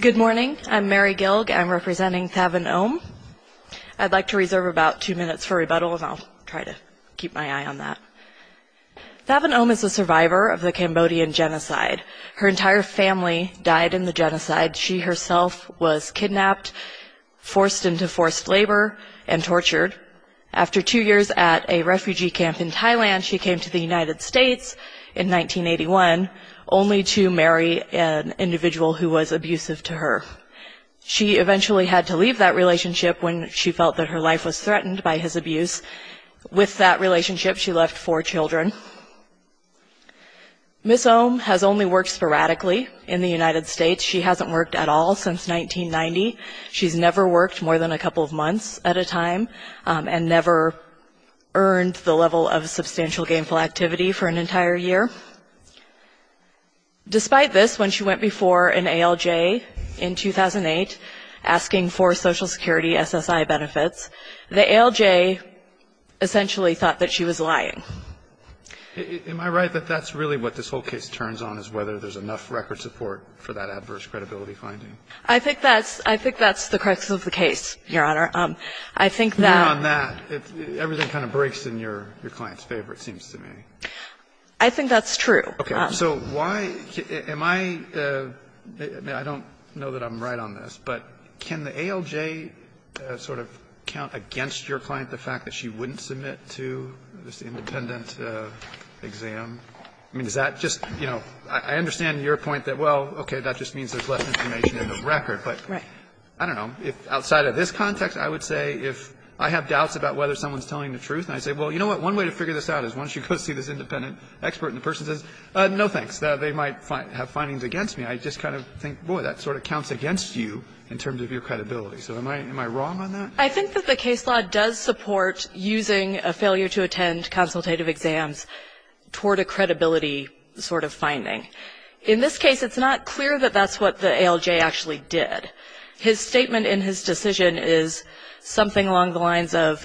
Good morning. I'm Mary Gilg. I'm representing Thavin Om. I'd like to reserve about two minutes for rebuttal, and I'll try to keep my eye on that. Thavin Om is a survivor of the Cambodian genocide. Her entire family died in the genocide. She herself was kidnapped, forced into forced labor, and tortured. After two years at a refugee camp in Thailand, she came to the United States in 1981 only to marry an individual who was abusive to her. She eventually had to leave that relationship when she felt that her life was threatened by his abuse. With that relationship, she left four children. Ms. Om has only worked sporadically in the United States. She hasn't worked at all since 1990. She's never worked more than a couple of months at a time and never earned the level of substantial gainful activity for an entire year. Despite this, when she went before an ALJ in 2008 asking for Social Security SSI benefits, the ALJ essentially thought that she was lying. Am I right that that's really what this whole case turns on, is whether there's enough record support for that adverse credibility finding? I think that's the crisis of the case, Your Honor. I think that's true. I don't know that I'm right on this, but can the ALJ sort of count against your client the fact that she wouldn't submit to this independent exam? I mean, is that just, you know, I understand your point that, well, okay, that just means there's less information in the record, but I don't know. If outside of this context, I would say if I have doubts about whether someone's telling the truth, and I say, well, you know what, one way to figure this out is once you go see this independent expert and the person says, no, thanks, they might have findings against me. I just kind of think, boy, that sort of counts against you in terms of your credibility. So am I wrong on that? I think that the case law does support using a failure to attend consultative exams toward a credibility sort of finding. In this case, it's not clear that that's what the ALJ actually did. His statement in his decision is something along the lines of,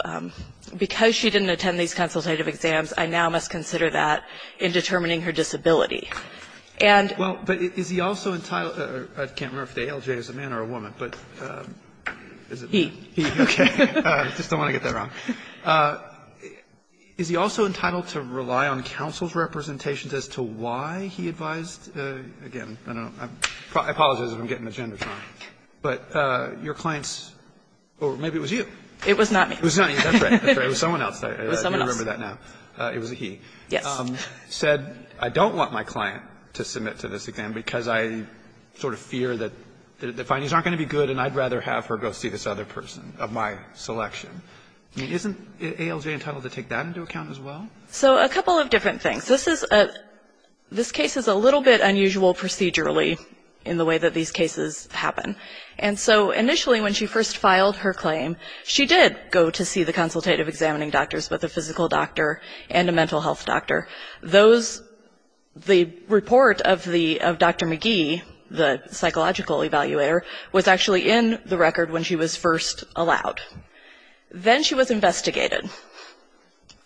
because she didn't attend these consultative exams, I now must consider that in determining her disability. And he also entitled to rely on counsel's representations as to why he advised her to do that? Again, I don't know. I apologize if I'm getting the genders wrong. But your client's or maybe it was you. It was not me. It was not you. That's right. It was someone else. It was someone else. You remember that now. It was a he. Yes. Said, I don't want my client to submit to this exam because I sort of fear that the findings aren't going to be good and I'd rather have her go see this other person of my selection. Isn't ALJ entitled to take that into account as well? So a couple of different things. This case is a little bit unusual procedurally in the way that these cases happen. And so initially when she first filed her claim, she did go to see the consultative examining doctors, both a physical doctor and a mental health doctor. Those, the report of Dr. McGee, the psychological evaluator, was actually in the record when she was first allowed. Then she was investigated.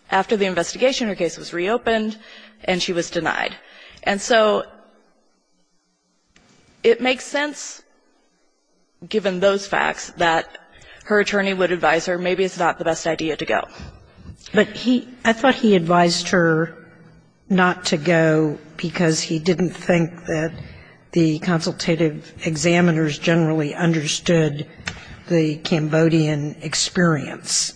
After the investigation, her case was reopened and she was denied. And so it makes sense, given those facts, that her attorney would advise her maybe it's not the best idea to go. But he, I thought he advised her not to go because he didn't think that the consultative examiners generally understood the Cambodian experience.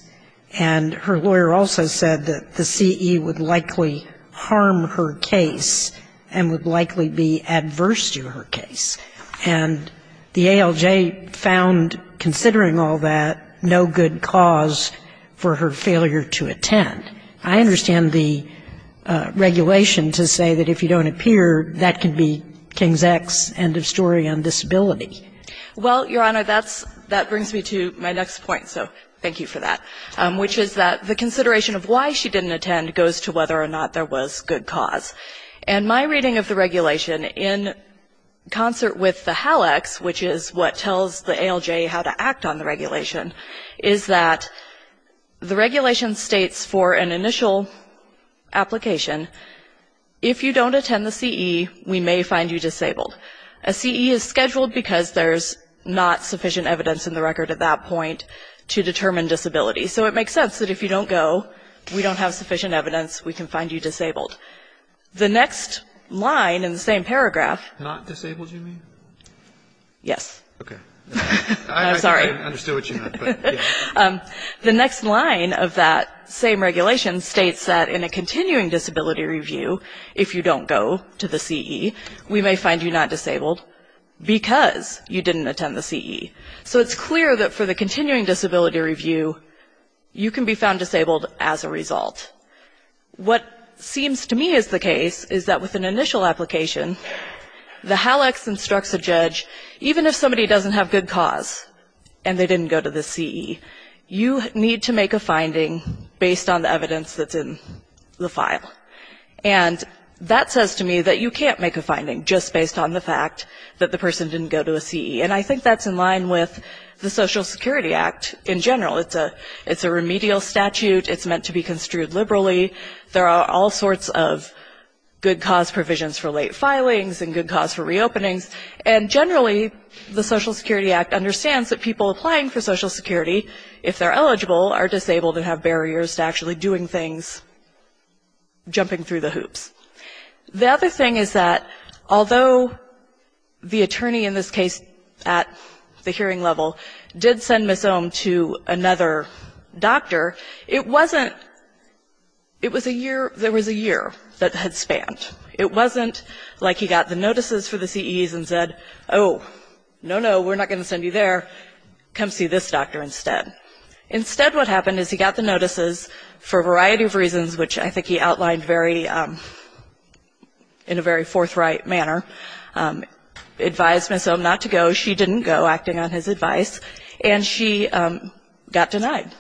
And her lawyer also said that the CE would likely harm her case and would likely be adverse to her case. And the ALJ found, considering all that, no good cause for her failure to attend. I understand the regulation to say that if you don't appear, that can be King's X, end of story on disability. Well, Your Honor, that brings me to my next point, so thank you for that, which is that the consideration of why she didn't attend goes to whether or not there was good cause. And my reading of the regulation in concert with the HALX, which is what tells the ALJ how to act on the regulation, is that the regulation states for an initial application, if you don't attend the CE, we may find you disabled. A CE is scheduled because there's not sufficient evidence in the record at that point to determine disability. So it makes sense that if you don't go, we don't have sufficient evidence, we can find you disabled. The next line in the same paragraph. Not disabled, you mean? Yes. Okay. I'm sorry. I understood what you meant. The next line of that same regulation states that in a continuing disability review, if you don't go to the CE, we may find you not disabled because you didn't attend the CE. So it's clear that for the continuing disability review, you can be found disabled as a result. What seems to me is the case is that with an initial application, the HALX instructs a judge, even if somebody doesn't have good cause and they didn't go to the CE, you need to make a finding based on the evidence that's in the file. And that says to me that you can't make a finding just based on the fact that the person didn't go to a CE. And I think that's in line with the Social Security Act in general. It's a remedial statute. It's meant to be construed liberally. There are all sorts of good cause provisions for late filings and good cause for reopenings. And generally, the Social Security Act understands that people applying for Social Security, if they're eligible, are disabled and have barriers to actually doing things, jumping through the hoops. The other thing is that although the attorney in this case at the hearing level did send Ms. Ohm to another doctor, it wasn't – it was a year – there was a year that had spanned. It wasn't like he got the notices for the CEs and said, oh, no, no, we're not going to send you there. Come see this doctor instead. Instead what happened is he got the notices for a variety of reasons, which I think he outlined very – in a very forthright manner, advised Ms. Ohm not to go. She didn't go, acting on his advice. And she got denied.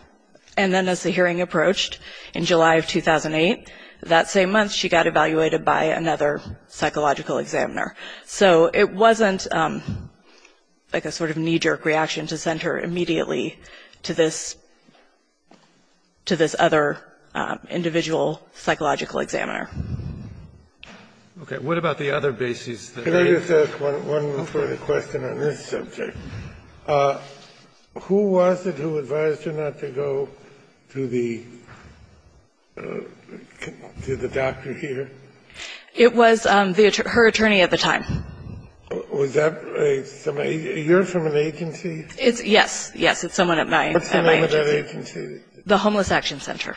And then as the hearing approached in July of 2008, that same month, she got evaluated by another psychological examiner. So it wasn't like a sort of knee-jerk reaction to send her immediately to this – to this other individual psychological examiner. Okay. What about the other bases? Can I just ask one further question on this subject? Who was it who advised her not to go to the – to the doctor here? It was the – her attorney at the time. Was that a – you're from an agency? It's – yes. Yes, it's someone at my agency. What's the name of that agency? The Homeless Action Center.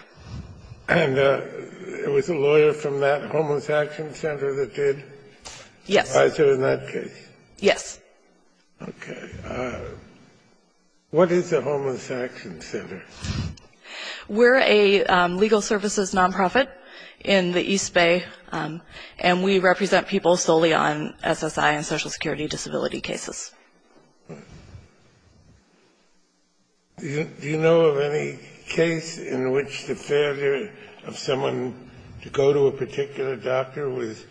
And it was a lawyer from that Homeless Action Center that did? Yes. Advise her in that case? Yes. Okay. What is the Homeless Action Center? We're a legal services nonprofit in the East Bay. And we represent people solely on SSI and Social Security disability cases. Do you know of any case in which the failure of someone to go to a particular doctor was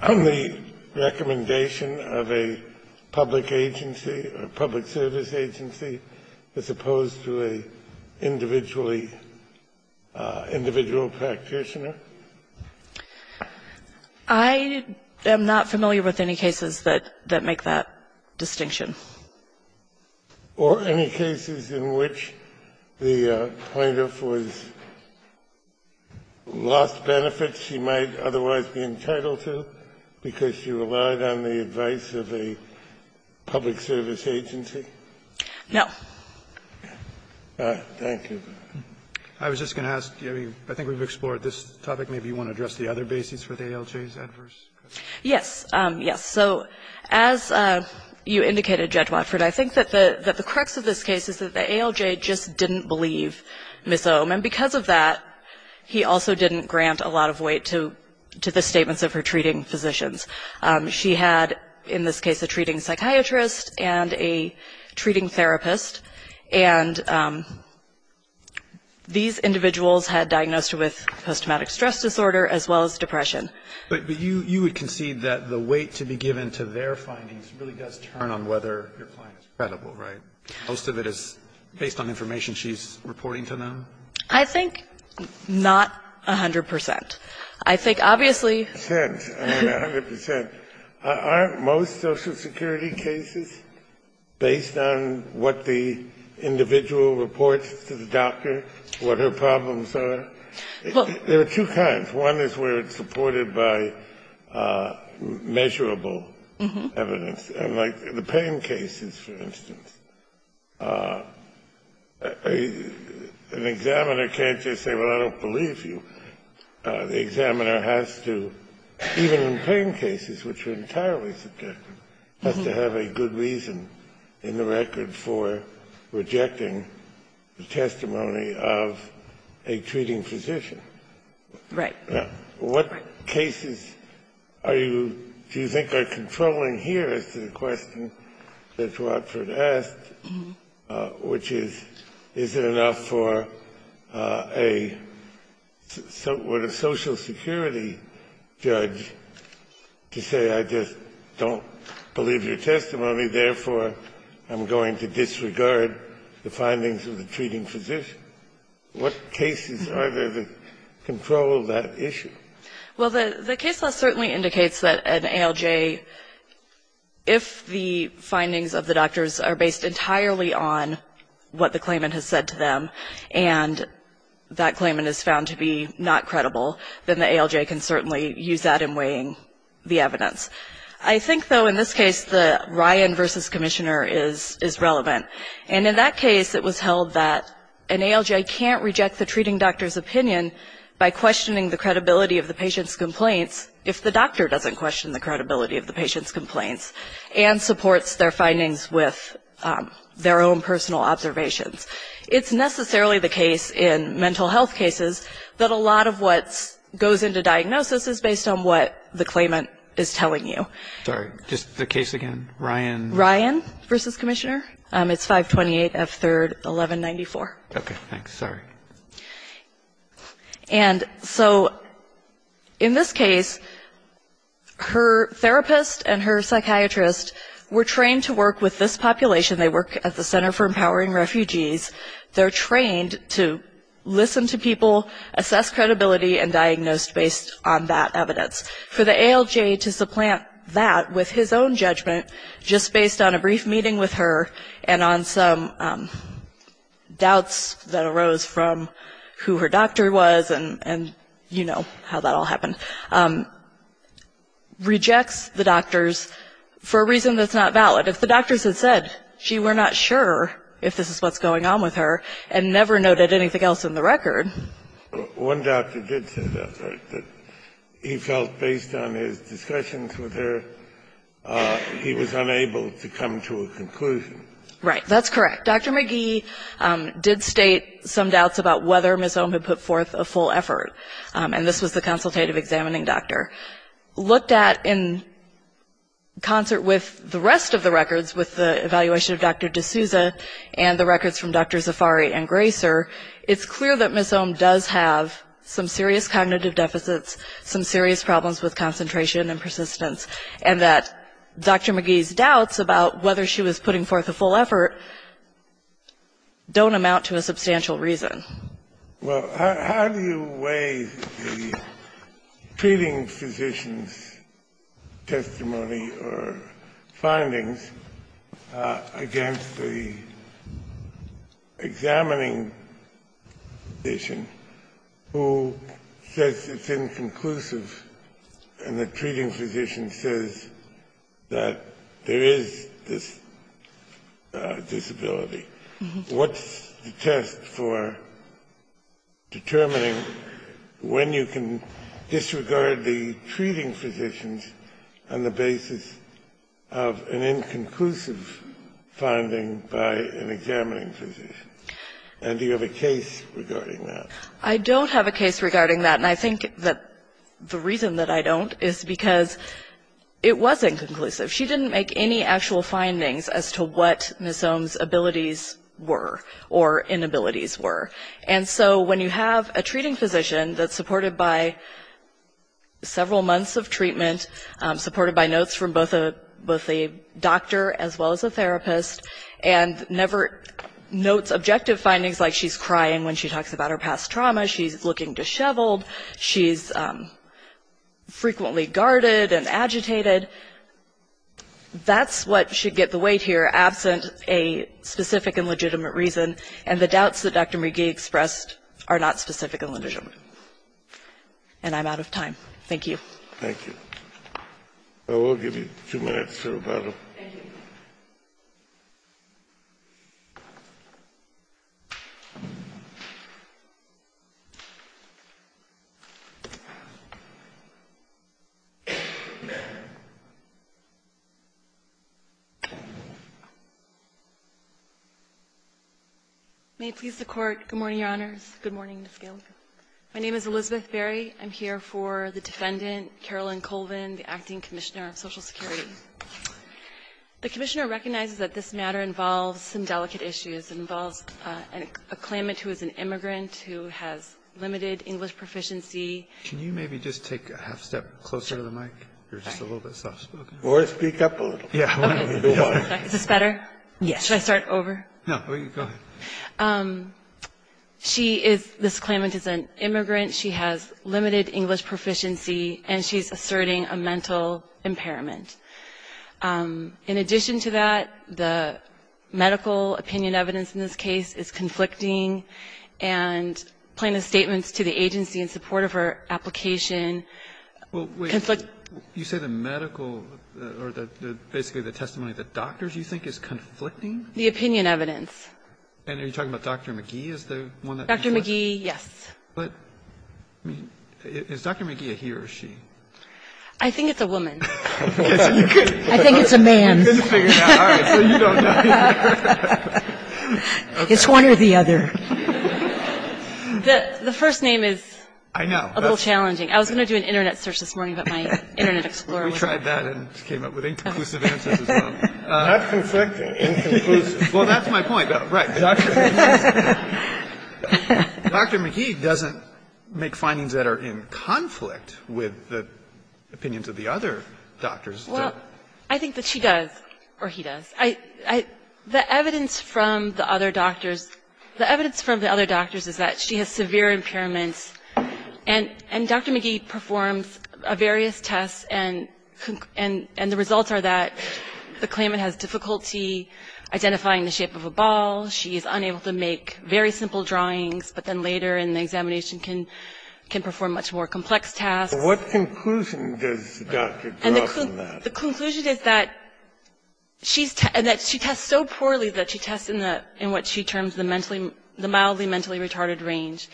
on the recommendation of a public agency or public service agency as opposed to an individually – individual practitioner? I am not familiar with any cases that make that distinction. Or any cases in which the plaintiff was – lost benefits she might otherwise be entitled to because she relied on the advice of a public service agency? No. Thank you. I was just going to ask, I mean, I think we've explored this topic. Maybe you want to address the other bases for the ALJ's adverse? Yes. Yes. So as you indicated, Judge Watford, I think that the – that the crux of this case is that the ALJ just didn't believe Ms. Ohm. And because of that, he also didn't grant a lot of weight to the statements of her treating physicians. She had, in this case, a treating psychiatrist and a treating therapist. And these individuals had diagnosed with post-traumatic stress disorder as well as depression. But you would concede that the weight to be given to their findings really does turn on whether your client is credible, right? Most of it is based on information she's reporting to them? I think not 100 percent. I think obviously – A hundred percent. Aren't most Social Security cases based on what the individual reports to the doctor, what her problems are? There are two kinds. One is where it's supported by measurable evidence. And like the pain cases, for instance, an examiner can't just say, well, I don't believe you. The examiner has to, even in pain cases which are entirely subjective, has to have a good reason in the record for rejecting the testimony of a treating physician. Right. Now, what cases are you – do you think are controlling here as to the question that Dr. Watford asked, which is, is it enough for a – what, a Social Security judge to say, I just don't believe your testimony, therefore I'm going to disregard the findings of the treating physician? What cases are there that control that issue? Well, the case law certainly indicates that an ALJ, if the findings of the doctors are based entirely on what the claimant has said to them, and that claimant is found to be not credible, then the ALJ can certainly use that in weighing the evidence. I think, though, in this case, the Ryan v. Commissioner is relevant. And in that case, it was held that an ALJ can't reject the treating doctor's opinion by questioning the credibility of the patient's complaints if the doctor doesn't question the credibility of the patient's complaints and supports their findings with their own personal observations. It's necessarily the case in mental health cases that a lot of what goes into diagnosis is based on what the claimant is telling you. Sorry, just the case again, Ryan. Ryan v. Commissioner. It's 528 F. 3rd, 1194. Okay. Thanks. Sorry. And so in this case, her therapist and her psychiatrist were trained to work with this population. They work at the Center for Empowering Refugees. They're trained to listen to people, assess credibility, and diagnose based on that evidence. For the ALJ to supplant that with his own judgment just based on a brief meeting with her and on some doubts that arose from who her doctor was and, you know, how that all happened, rejects the doctors for a reason that's not valid. If the doctors had said she were not sure if this is what's going on with her and never noted anything else in the record. One doctor did say that, right, that he felt based on his discussions with her he was unable to come to a conclusion. Right. That's correct. Dr. McGee did state some doubts about whether Ms. Ohm had put forth a full effort, and this was the consultative examining doctor. Looked at in concert with the rest of the records, with the evaluation of Dr. D'Souza and the records from Dr. Zafari and Gracer, it's clear that Ms. Ohm does have some serious cognitive deficits, some serious problems with concentration and persistence, and that Dr. McGee's doubts about whether she was putting forth a full effort don't amount to a substantial reason. Well, how do you weigh the treating physician's testimony or findings against the examining physician who says it's inconclusive and the treating physician says that there is this disability? What's the test for determining when you can disregard the treating physicians on the basis of an inconclusive finding by an examining physician? And do you have a case regarding that? I don't have a case regarding that, and I think that the reason that I don't is because it was inconclusive. She didn't make any actual findings as to what Ms. Ohm's abilities were or inabilities were. And so when you have a treating physician that's supported by several months of treatment, supported by notes from both a doctor as well as a therapist, and never notes objective findings like she's crying when she talks about her past trauma, she's looking disheveled, she's frequently guarded and agitated, that's what should get the weight here, absent a lot of what Dr. McGee expressed are not specific illusions. And I'm out of time. Thank you. Thank you. I will give you two minutes to rebuttal. Thank you. May it please the Court. Good morning, Your Honors. Good morning, Ms. Gailey. My name is Elizabeth Berry. I'm here for the defendant, Carolyn Colvin, the Acting Commissioner of Social Security. The Commissioner recognizes that this matter involves some delicate issues. It involves a claimant who is an immigrant who has limited English proficiency. Can you maybe just take a half-step closer to the mic? You're just a little bit soft-spoken. Or speak up a little. Is this better? Yes. Should I start over? No. Go ahead. She is this claimant is an immigrant. She has limited English proficiency, and she's asserting a mental impairment. In addition to that, the medical opinion evidence in this case is conflicting, and plaintiff's statements to the agency in support of her application conflict You say the medical or basically the testimony of the doctors you think is conflicting? The opinion evidence. And are you talking about Dr. McGee is the one that? Dr. McGee, yes. But is Dr. McGee a he or a she? I think it's a woman. I think it's a man. So you don't know. It's one or the other. The first name is a little challenging. I was going to do an Internet search this morning about my Internet explorer. We tried that and came up with inconclusive answers as well. That's conflicting. Well, that's my point. Right. Dr. McGee doesn't make findings that are in conflict with the opinions of the other doctors. Well, I think that she does or he does. The evidence from the other doctors, the evidence from the other doctors is that she has severe impairments, and Dr. McGee performs various tests, and the results are that the claimant has difficulty identifying the shape of a ball. She is unable to make very simple drawings, but then later in the examination can perform much more complex tasks. What conclusion does the doctor draw from that? The conclusion is that she tests so poorly that she tests in what she terms the mildly mentally retarded range.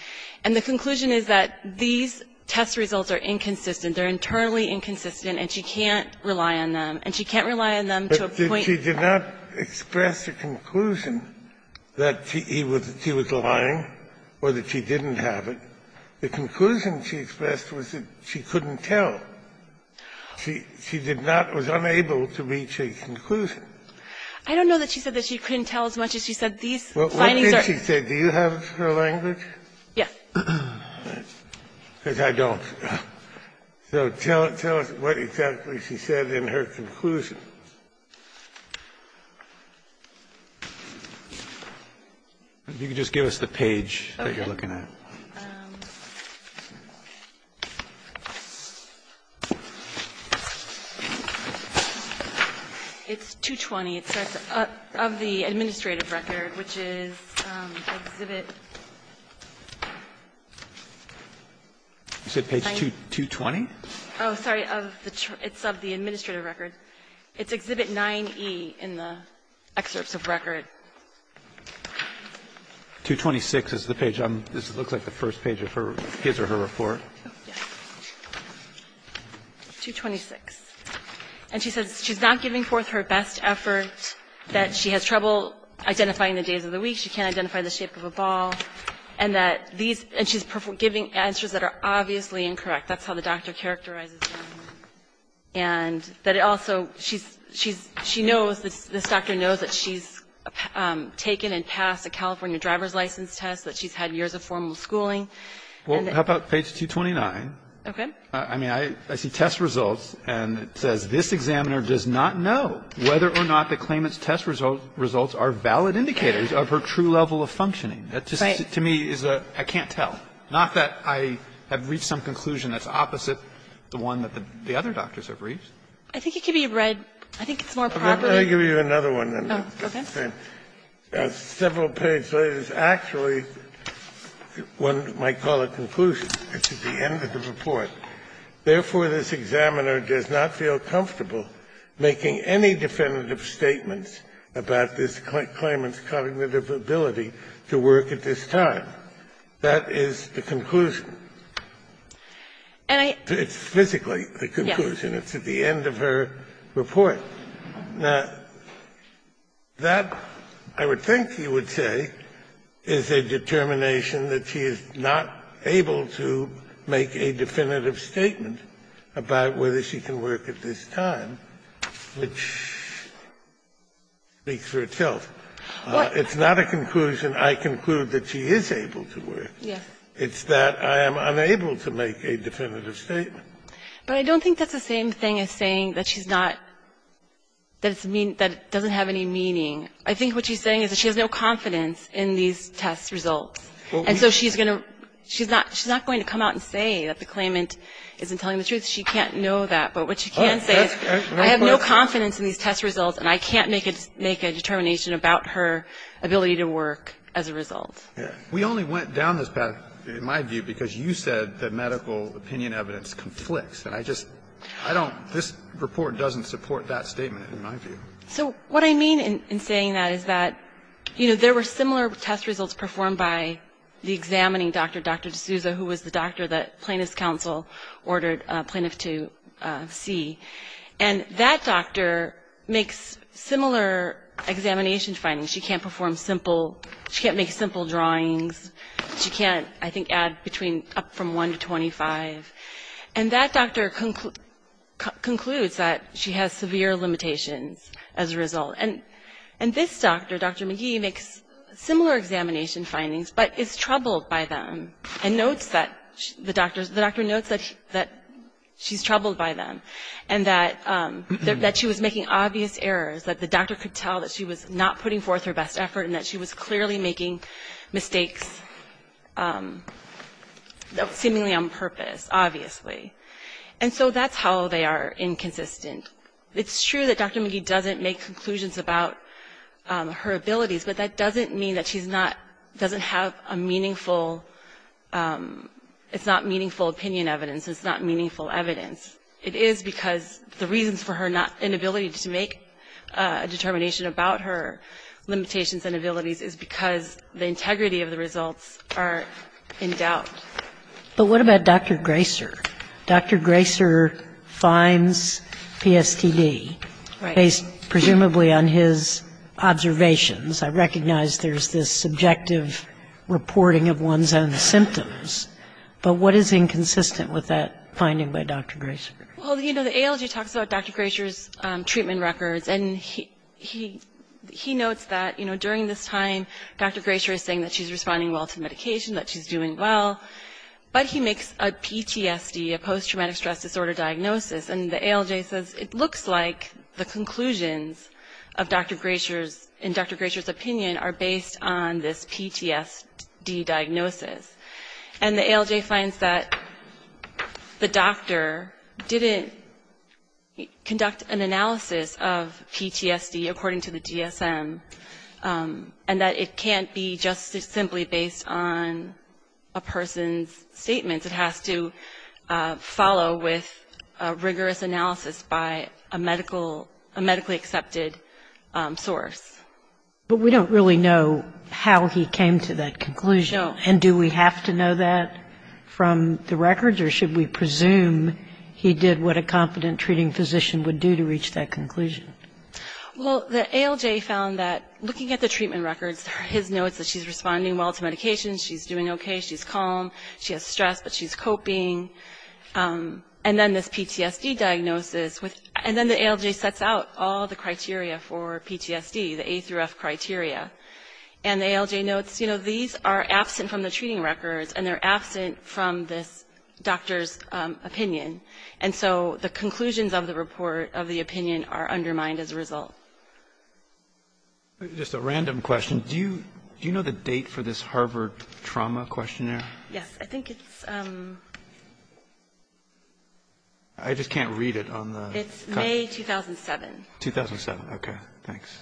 And the conclusion is that these test results are inconsistent. They are internally inconsistent, and she can't rely on them. And she can't rely on them to a point. But she did not express a conclusion that he was lying or that she didn't have it. The conclusion she expressed was that she couldn't tell. She did not, was unable to reach a conclusion. I don't know that she said that she couldn't tell as much as she said these findings are. What did she say? Do you have her language? Yes. Because I don't. So tell us what exactly she said in her conclusion. If you could just give us the page that you're looking at. It's 220. It says of the administrative record, which is exhibit. Is it page 220? Oh, sorry. It's of the administrative record. It's exhibit 9E in the excerpts of record. 226 is the page. This looks like the first page of her, his or her report. 226. And she says she's not giving forth her best effort, that she has trouble identifying the days of the week. She can't identify the shape of a ball. And that these, and she's giving answers that are obviously incorrect. That's how the doctor characterizes them. And that it also, she's, she knows, this doctor knows that she's taken and passed a California driver's license test, that she's had years of formal schooling. Well, how about page 229? Okay. I mean, I see test results, and it says this examiner does not know whether or not the claimant's test results are valid indicators of her true level of functioning. That just to me is a, I can't tell. Not that I have reached some conclusion that's opposite the one that the other doctors have reached. I think it could be read, I think it's more properly. Let me give you another one. Okay. Several pages later, it's actually, one might call a conclusion. It's at the end of the report. It says, therefore, this examiner does not feel comfortable making any definitive statements about this claimant's cognitive ability to work at this time. That is the conclusion. It's physically the conclusion. It's at the end of her report. Now, that, I would think you would say, is a determination that she is not able to make a definitive statement about whether she can work at this time, which speaks for itself. It's not a conclusion, I conclude, that she is able to work. It's that I am unable to make a definitive statement. But I don't think that's the same thing as saying that she's not, that it doesn't have any meaning. I think what she's saying is that she has no confidence in these test results. And so she's going to, she's not going to come out and say that the claimant isn't telling the truth. She can't know that. But what she can say is, I have no confidence in these test results, and I can't make a determination about her ability to work as a result. We only went down this path, in my view, because you said that medical opinion evidence conflicts. And I just, I don't, this report doesn't support that statement, in my view. So what I mean in saying that is that, you know, there were similar test results performed by the examining doctor, Dr. D'Souza, who was the doctor that plaintiff's counsel ordered plaintiff to see. And that doctor makes similar examination findings. She can't perform simple, she can't make simple drawings. She can't, I think, add between up from 1 to 25. And that doctor concludes that she has severe limitations as a result. And this doctor, Dr. McGee, makes similar examination findings, but is troubled by them. And notes that, the doctor notes that she's troubled by them. And that she was making obvious errors, that the doctor could tell that she was not putting forth her best effort, and that she was clearly making mistakes, seemingly on purpose, obviously. And so that's how they are inconsistent. It's true that Dr. McGee doesn't make conclusions about her abilities, but that doesn't mean that she's not, doesn't have a meaningful, it's not meaningful opinion evidence, it's not meaningful evidence. It is because the reasons for her inability to make a determination about her limitations and abilities is because the integrity of the results are in doubt. But what about Dr. Graeser? Dr. Graeser finds PSTD. Right. Based presumably on his observations. I recognize there's this subjective reporting of one's own symptoms. But what is inconsistent with that finding by Dr. Graeser? Well, you know, the ALG talks about Dr. Graeser's treatment records. And he notes that, you know, during this time, Dr. Graeser is saying that she's responding well to medication, that she's doing well. But he makes a PTSD, a post-traumatic stress disorder diagnosis. And the ALJ says it looks like the conclusions of Dr. Graeser's, in Dr. Graeser's opinion, are based on this PTSD diagnosis. And the ALJ finds that the doctor didn't conduct an analysis of PTSD, according to the DSM, and that it can't be just simply based on a person's statements. It has to follow with a rigorous analysis by a medical, a medically accepted source. But we don't really know how he came to that conclusion. No. And do we have to know that from the records? Or should we presume he did what a competent treating physician would do to reach that conclusion? Well, the ALJ found that, looking at the treatment records, his notes that she's responding well to medication, she's doing okay, she's calm, she has stress, but she's coping. And then this PTSD diagnosis, and then the ALJ sets out all the criteria for PTSD, the A through F criteria. And the ALJ notes, you know, these are absent from the treating records, and they're absent from this doctor's opinion. And so the conclusions of the report, of the opinion, are undermined as a result. Just a random question. Do you know the date for this Harvard trauma questionnaire? Yes. I think it's... I just can't read it on the... It's May 2007. 2007. Okay. Thanks.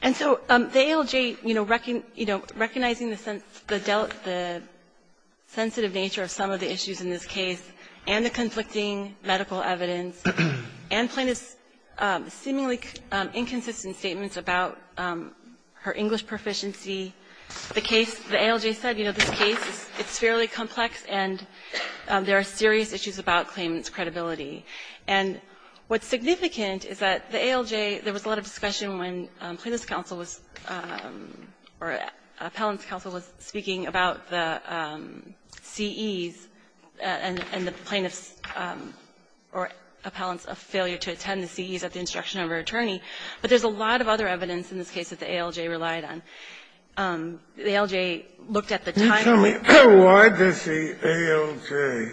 And so the ALJ, you know, recognizing the sensitive nature of some of the issues in this case, and the conflicting medical evidence, and plaintiff's seemingly inconsistent statements about her English proficiency, the case, the ALJ said, you know, this case, it's fairly complex, and there are serious issues about claimant's credibility. And what's significant is that the ALJ, there was a lot of discussion when plaintiff's counsel was, or appellant's counsel was speaking about the CEs and the plaintiff's or appellant's failure to attend the CEs at the instruction of her attorney. But there's a lot of other evidence in this case that the ALJ relied on. The ALJ looked at the time... Why does the ALJ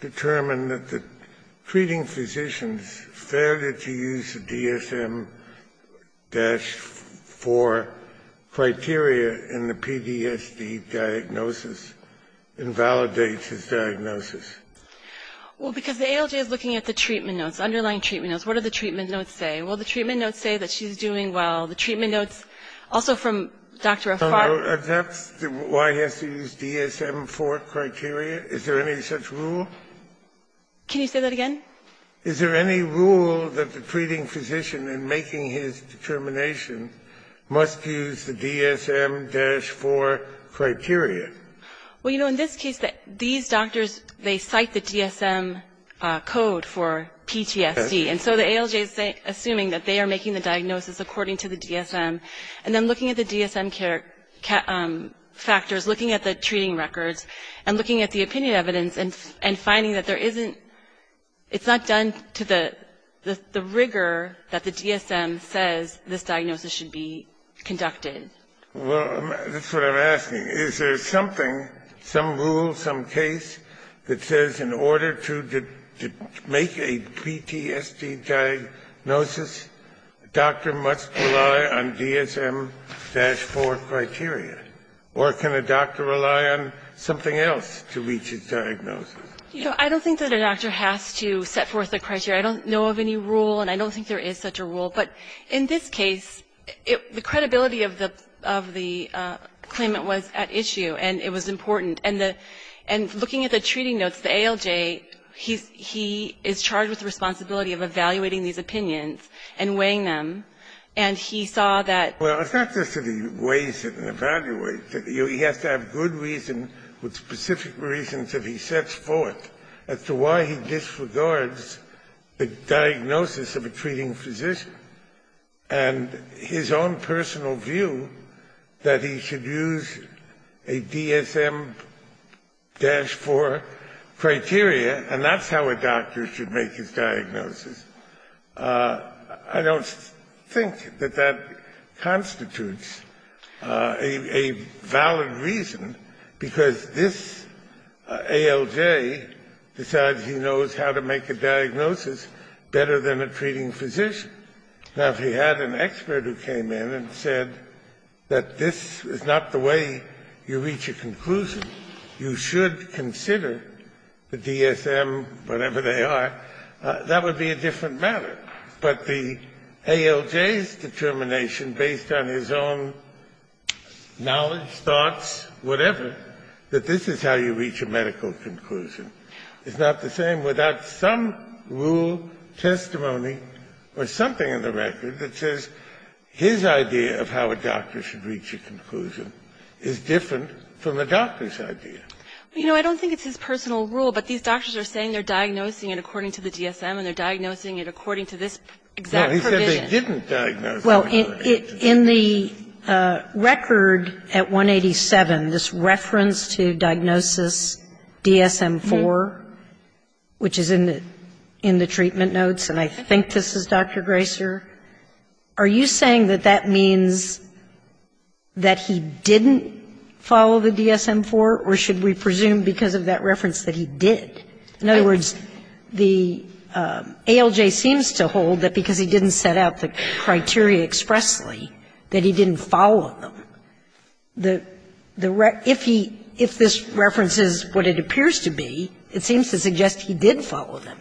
determine that the treating physicians failed to use the DSM-4 criteria in the PDSD diagnosis, invalidates his diagnosis? Well, because the ALJ is looking at the treatment notes, underlying treatment notes. What do the treatment notes say? Well, the treatment notes say that she's doing well. The treatment notes, also from Dr. Farber... That's why he has to use DSM-4 criteria? Is there any such rule? Can you say that again? Is there any rule that the treating physician, in making his determination, must use the DSM-4 criteria? Well, you know, in this case, these doctors, they cite the DSM code for PTSD. And so the ALJ is assuming that they are making the diagnosis according to the DSM. And then looking at the DSM factors, looking at the treating records, and looking at the opinion evidence, and finding that there isn't – it's not done to the rigor that the DSM says this diagnosis should be conducted. Well, that's what I'm asking. Is there something, some rule, some case, that says in order to make a PTSD diagnosis, a doctor must rely on DSM-4 criteria? Or can a doctor rely on something else to reach his diagnosis? You know, I don't think that a doctor has to set forth a criteria. I don't know of any rule, and I don't think there is such a rule. But in this case, the credibility of the claimant was at issue, and it was important. And looking at the treating notes, the ALJ, he is charged with the responsibility of evaluating these opinions and weighing them. And he saw that – Well, it's not just that he weighs it and evaluates it. He has to have good reason with specific reasons that he sets forth as to why he disregards the diagnosis of a treating physician. And his own personal view that he should use a DSM-4 criteria, and that's how a doctor should make his diagnosis. I don't think that that constitutes a valid reason, because this ALJ decides he knows how to make a diagnosis better than a treating physician. Now, if he had an expert who came in and said that this is not the way you reach a conclusion, you should consider the DSM, whatever they are, that would be a different matter. But the ALJ's determination, based on his own knowledge, thoughts, whatever, that this is how you reach a medical conclusion is not the same without some rule, testimony, or something in the record that says his idea of how a doctor should You know, I don't think it's his personal rule, but these doctors are saying they're diagnosing it according to the DSM and they're diagnosing it according to this exact provision. Well, in the record at 187, this reference to diagnosis DSM-4, which is in the treatment notes, and I think this is Dr. Graser, are you saying that that means that he didn't follow the DSM-4, or should we presume because of that reference that he did? In other words, the ALJ seems to hold that because he didn't set out the criteria expressly, that he didn't follow them. If he, if this reference is what it appears to be, it seems to suggest he did follow them.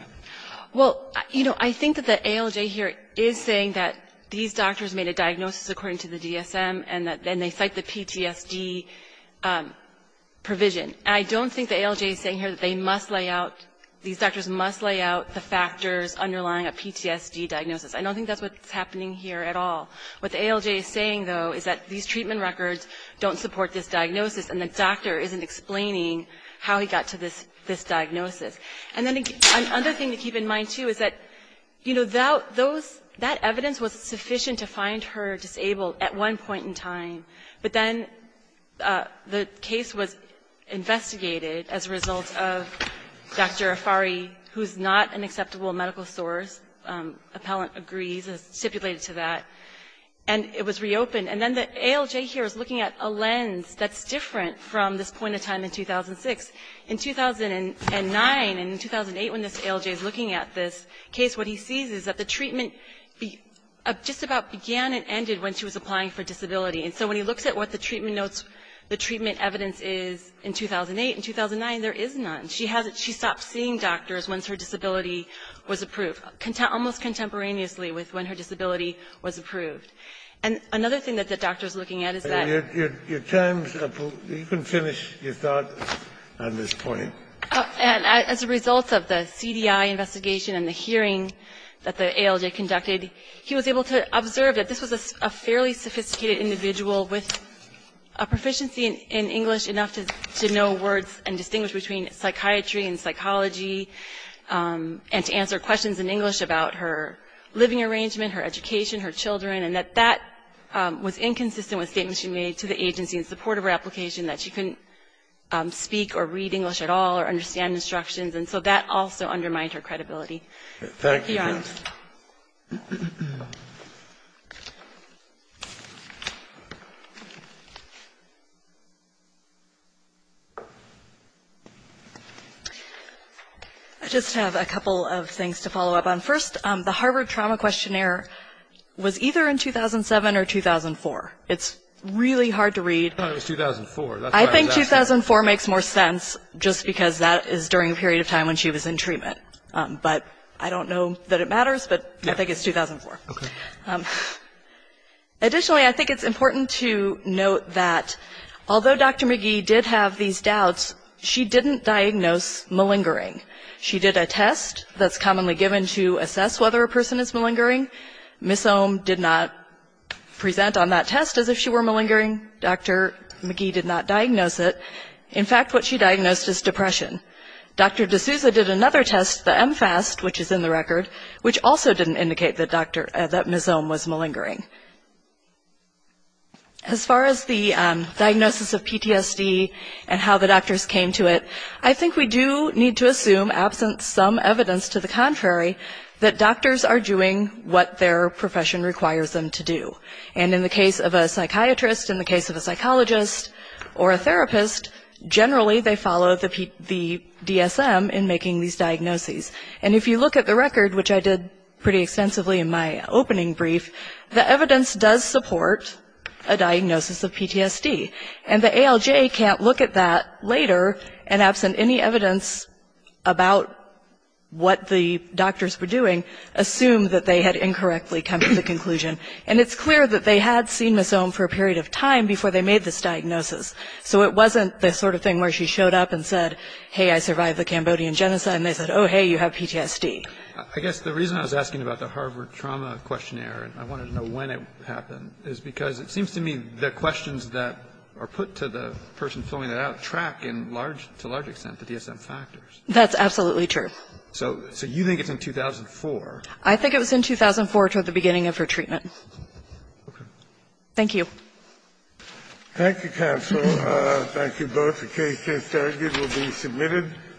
Well, you know, I think that the ALJ here is saying that these doctors made a diagnosis according to the DSM, and that then they cite the PTSD provision. And I don't think the ALJ is saying here that they must lay out, these doctors must lay out the factors underlying a PTSD diagnosis. I don't think that's what's happening here at all. What the ALJ is saying, though, is that these treatment records don't support this diagnosis, and the doctor isn't explaining how he got to this diagnosis. And then another thing to keep in mind, too, is that, you know, those, that evidence was sufficient to find her disabled at one point in time. But then the case was investigated as a result of Dr. Afari, who's not an acceptable medical source, appellant agrees, as stipulated to that. And it was reopened. And then the ALJ here is looking at a lens that's different from this point in time in 2006. In 2009 and in 2008, when this ALJ is looking at this case, what he sees is that the treatment just about began and ended when she was applying for disability. And so when he looks at what the treatment notes, the treatment evidence is in 2008 and 2009, there is none. She stopped seeing doctors once her disability was approved, almost contemporaneously with when her disability was approved. And another thing that the doctor is looking at is that you can finish your thought on this point. And as a result of the CDI investigation and the hearing that the ALJ conducted, he was able to observe that this was a fairly sophisticated individual with a proficiency in English enough to know words and distinguish between psychiatry and psychology and to answer questions in English about her living arrangement, her education, her children, and that that was inconsistent with statements she made to the agency in support of her application, that she couldn't speak or read English at all or understand instructions. And so that also undermined her credibility. Thank you. I just have a couple of things to follow up on. First, the Harvard trauma questionnaire was either in 2007 or 2004. It's really hard to read. I thought it was 2004. I think 2004 makes more sense just because that is during a period of time when she was in treatment. But I don't know that it matters, but I think it's 2004. Okay. Additionally, I think it's important to note that although Dr. McGee did have these doubts, she didn't diagnose malingering. She did a test that's commonly given to assess whether a person is malingering. Ms. Ohm did not present on that test as if she were malingering. Dr. McGee did not diagnose it. In fact, what she diagnosed is depression. Dr. D'Souza did another test, the MFAST, which is in the record, which also didn't indicate that Ms. Ohm was malingering. As far as the diagnosis of PTSD and how the doctors came to it, I think we do need to assume, absent some evidence to the contrary, that doctors are doing what their profession requires them to do. And in the case of a psychiatrist, in the case of a psychologist, or a therapist, generally they follow the DSM in making these diagnoses. And if you look at the record, which I did pretty extensively in my opening brief, the evidence does support a diagnosis of PTSD. And the ALJ can't look at that later, and absent any evidence about what the doctors were doing, assume that they had incorrectly come to the conclusion. And it's clear that they had seen Ms. Ohm for a period of time before they made this diagnosis. So it wasn't the sort of thing where she showed up and said, hey, I survived the Cambodian genocide, and they said, oh, hey, you have PTSD. I guess the reason I was asking about the Harvard trauma questionnaire, and I wanted to know when it happened, is because it seems to me the questions that are put to the person filling it out track in large, to a large extent, the DSM factors. That's absolutely true. So you think it's in 2004? I think it was in 2004, toward the beginning of her treatment. Okay. Thank you. Thank you, counsel. Thank you both. The case is argued will be submitted.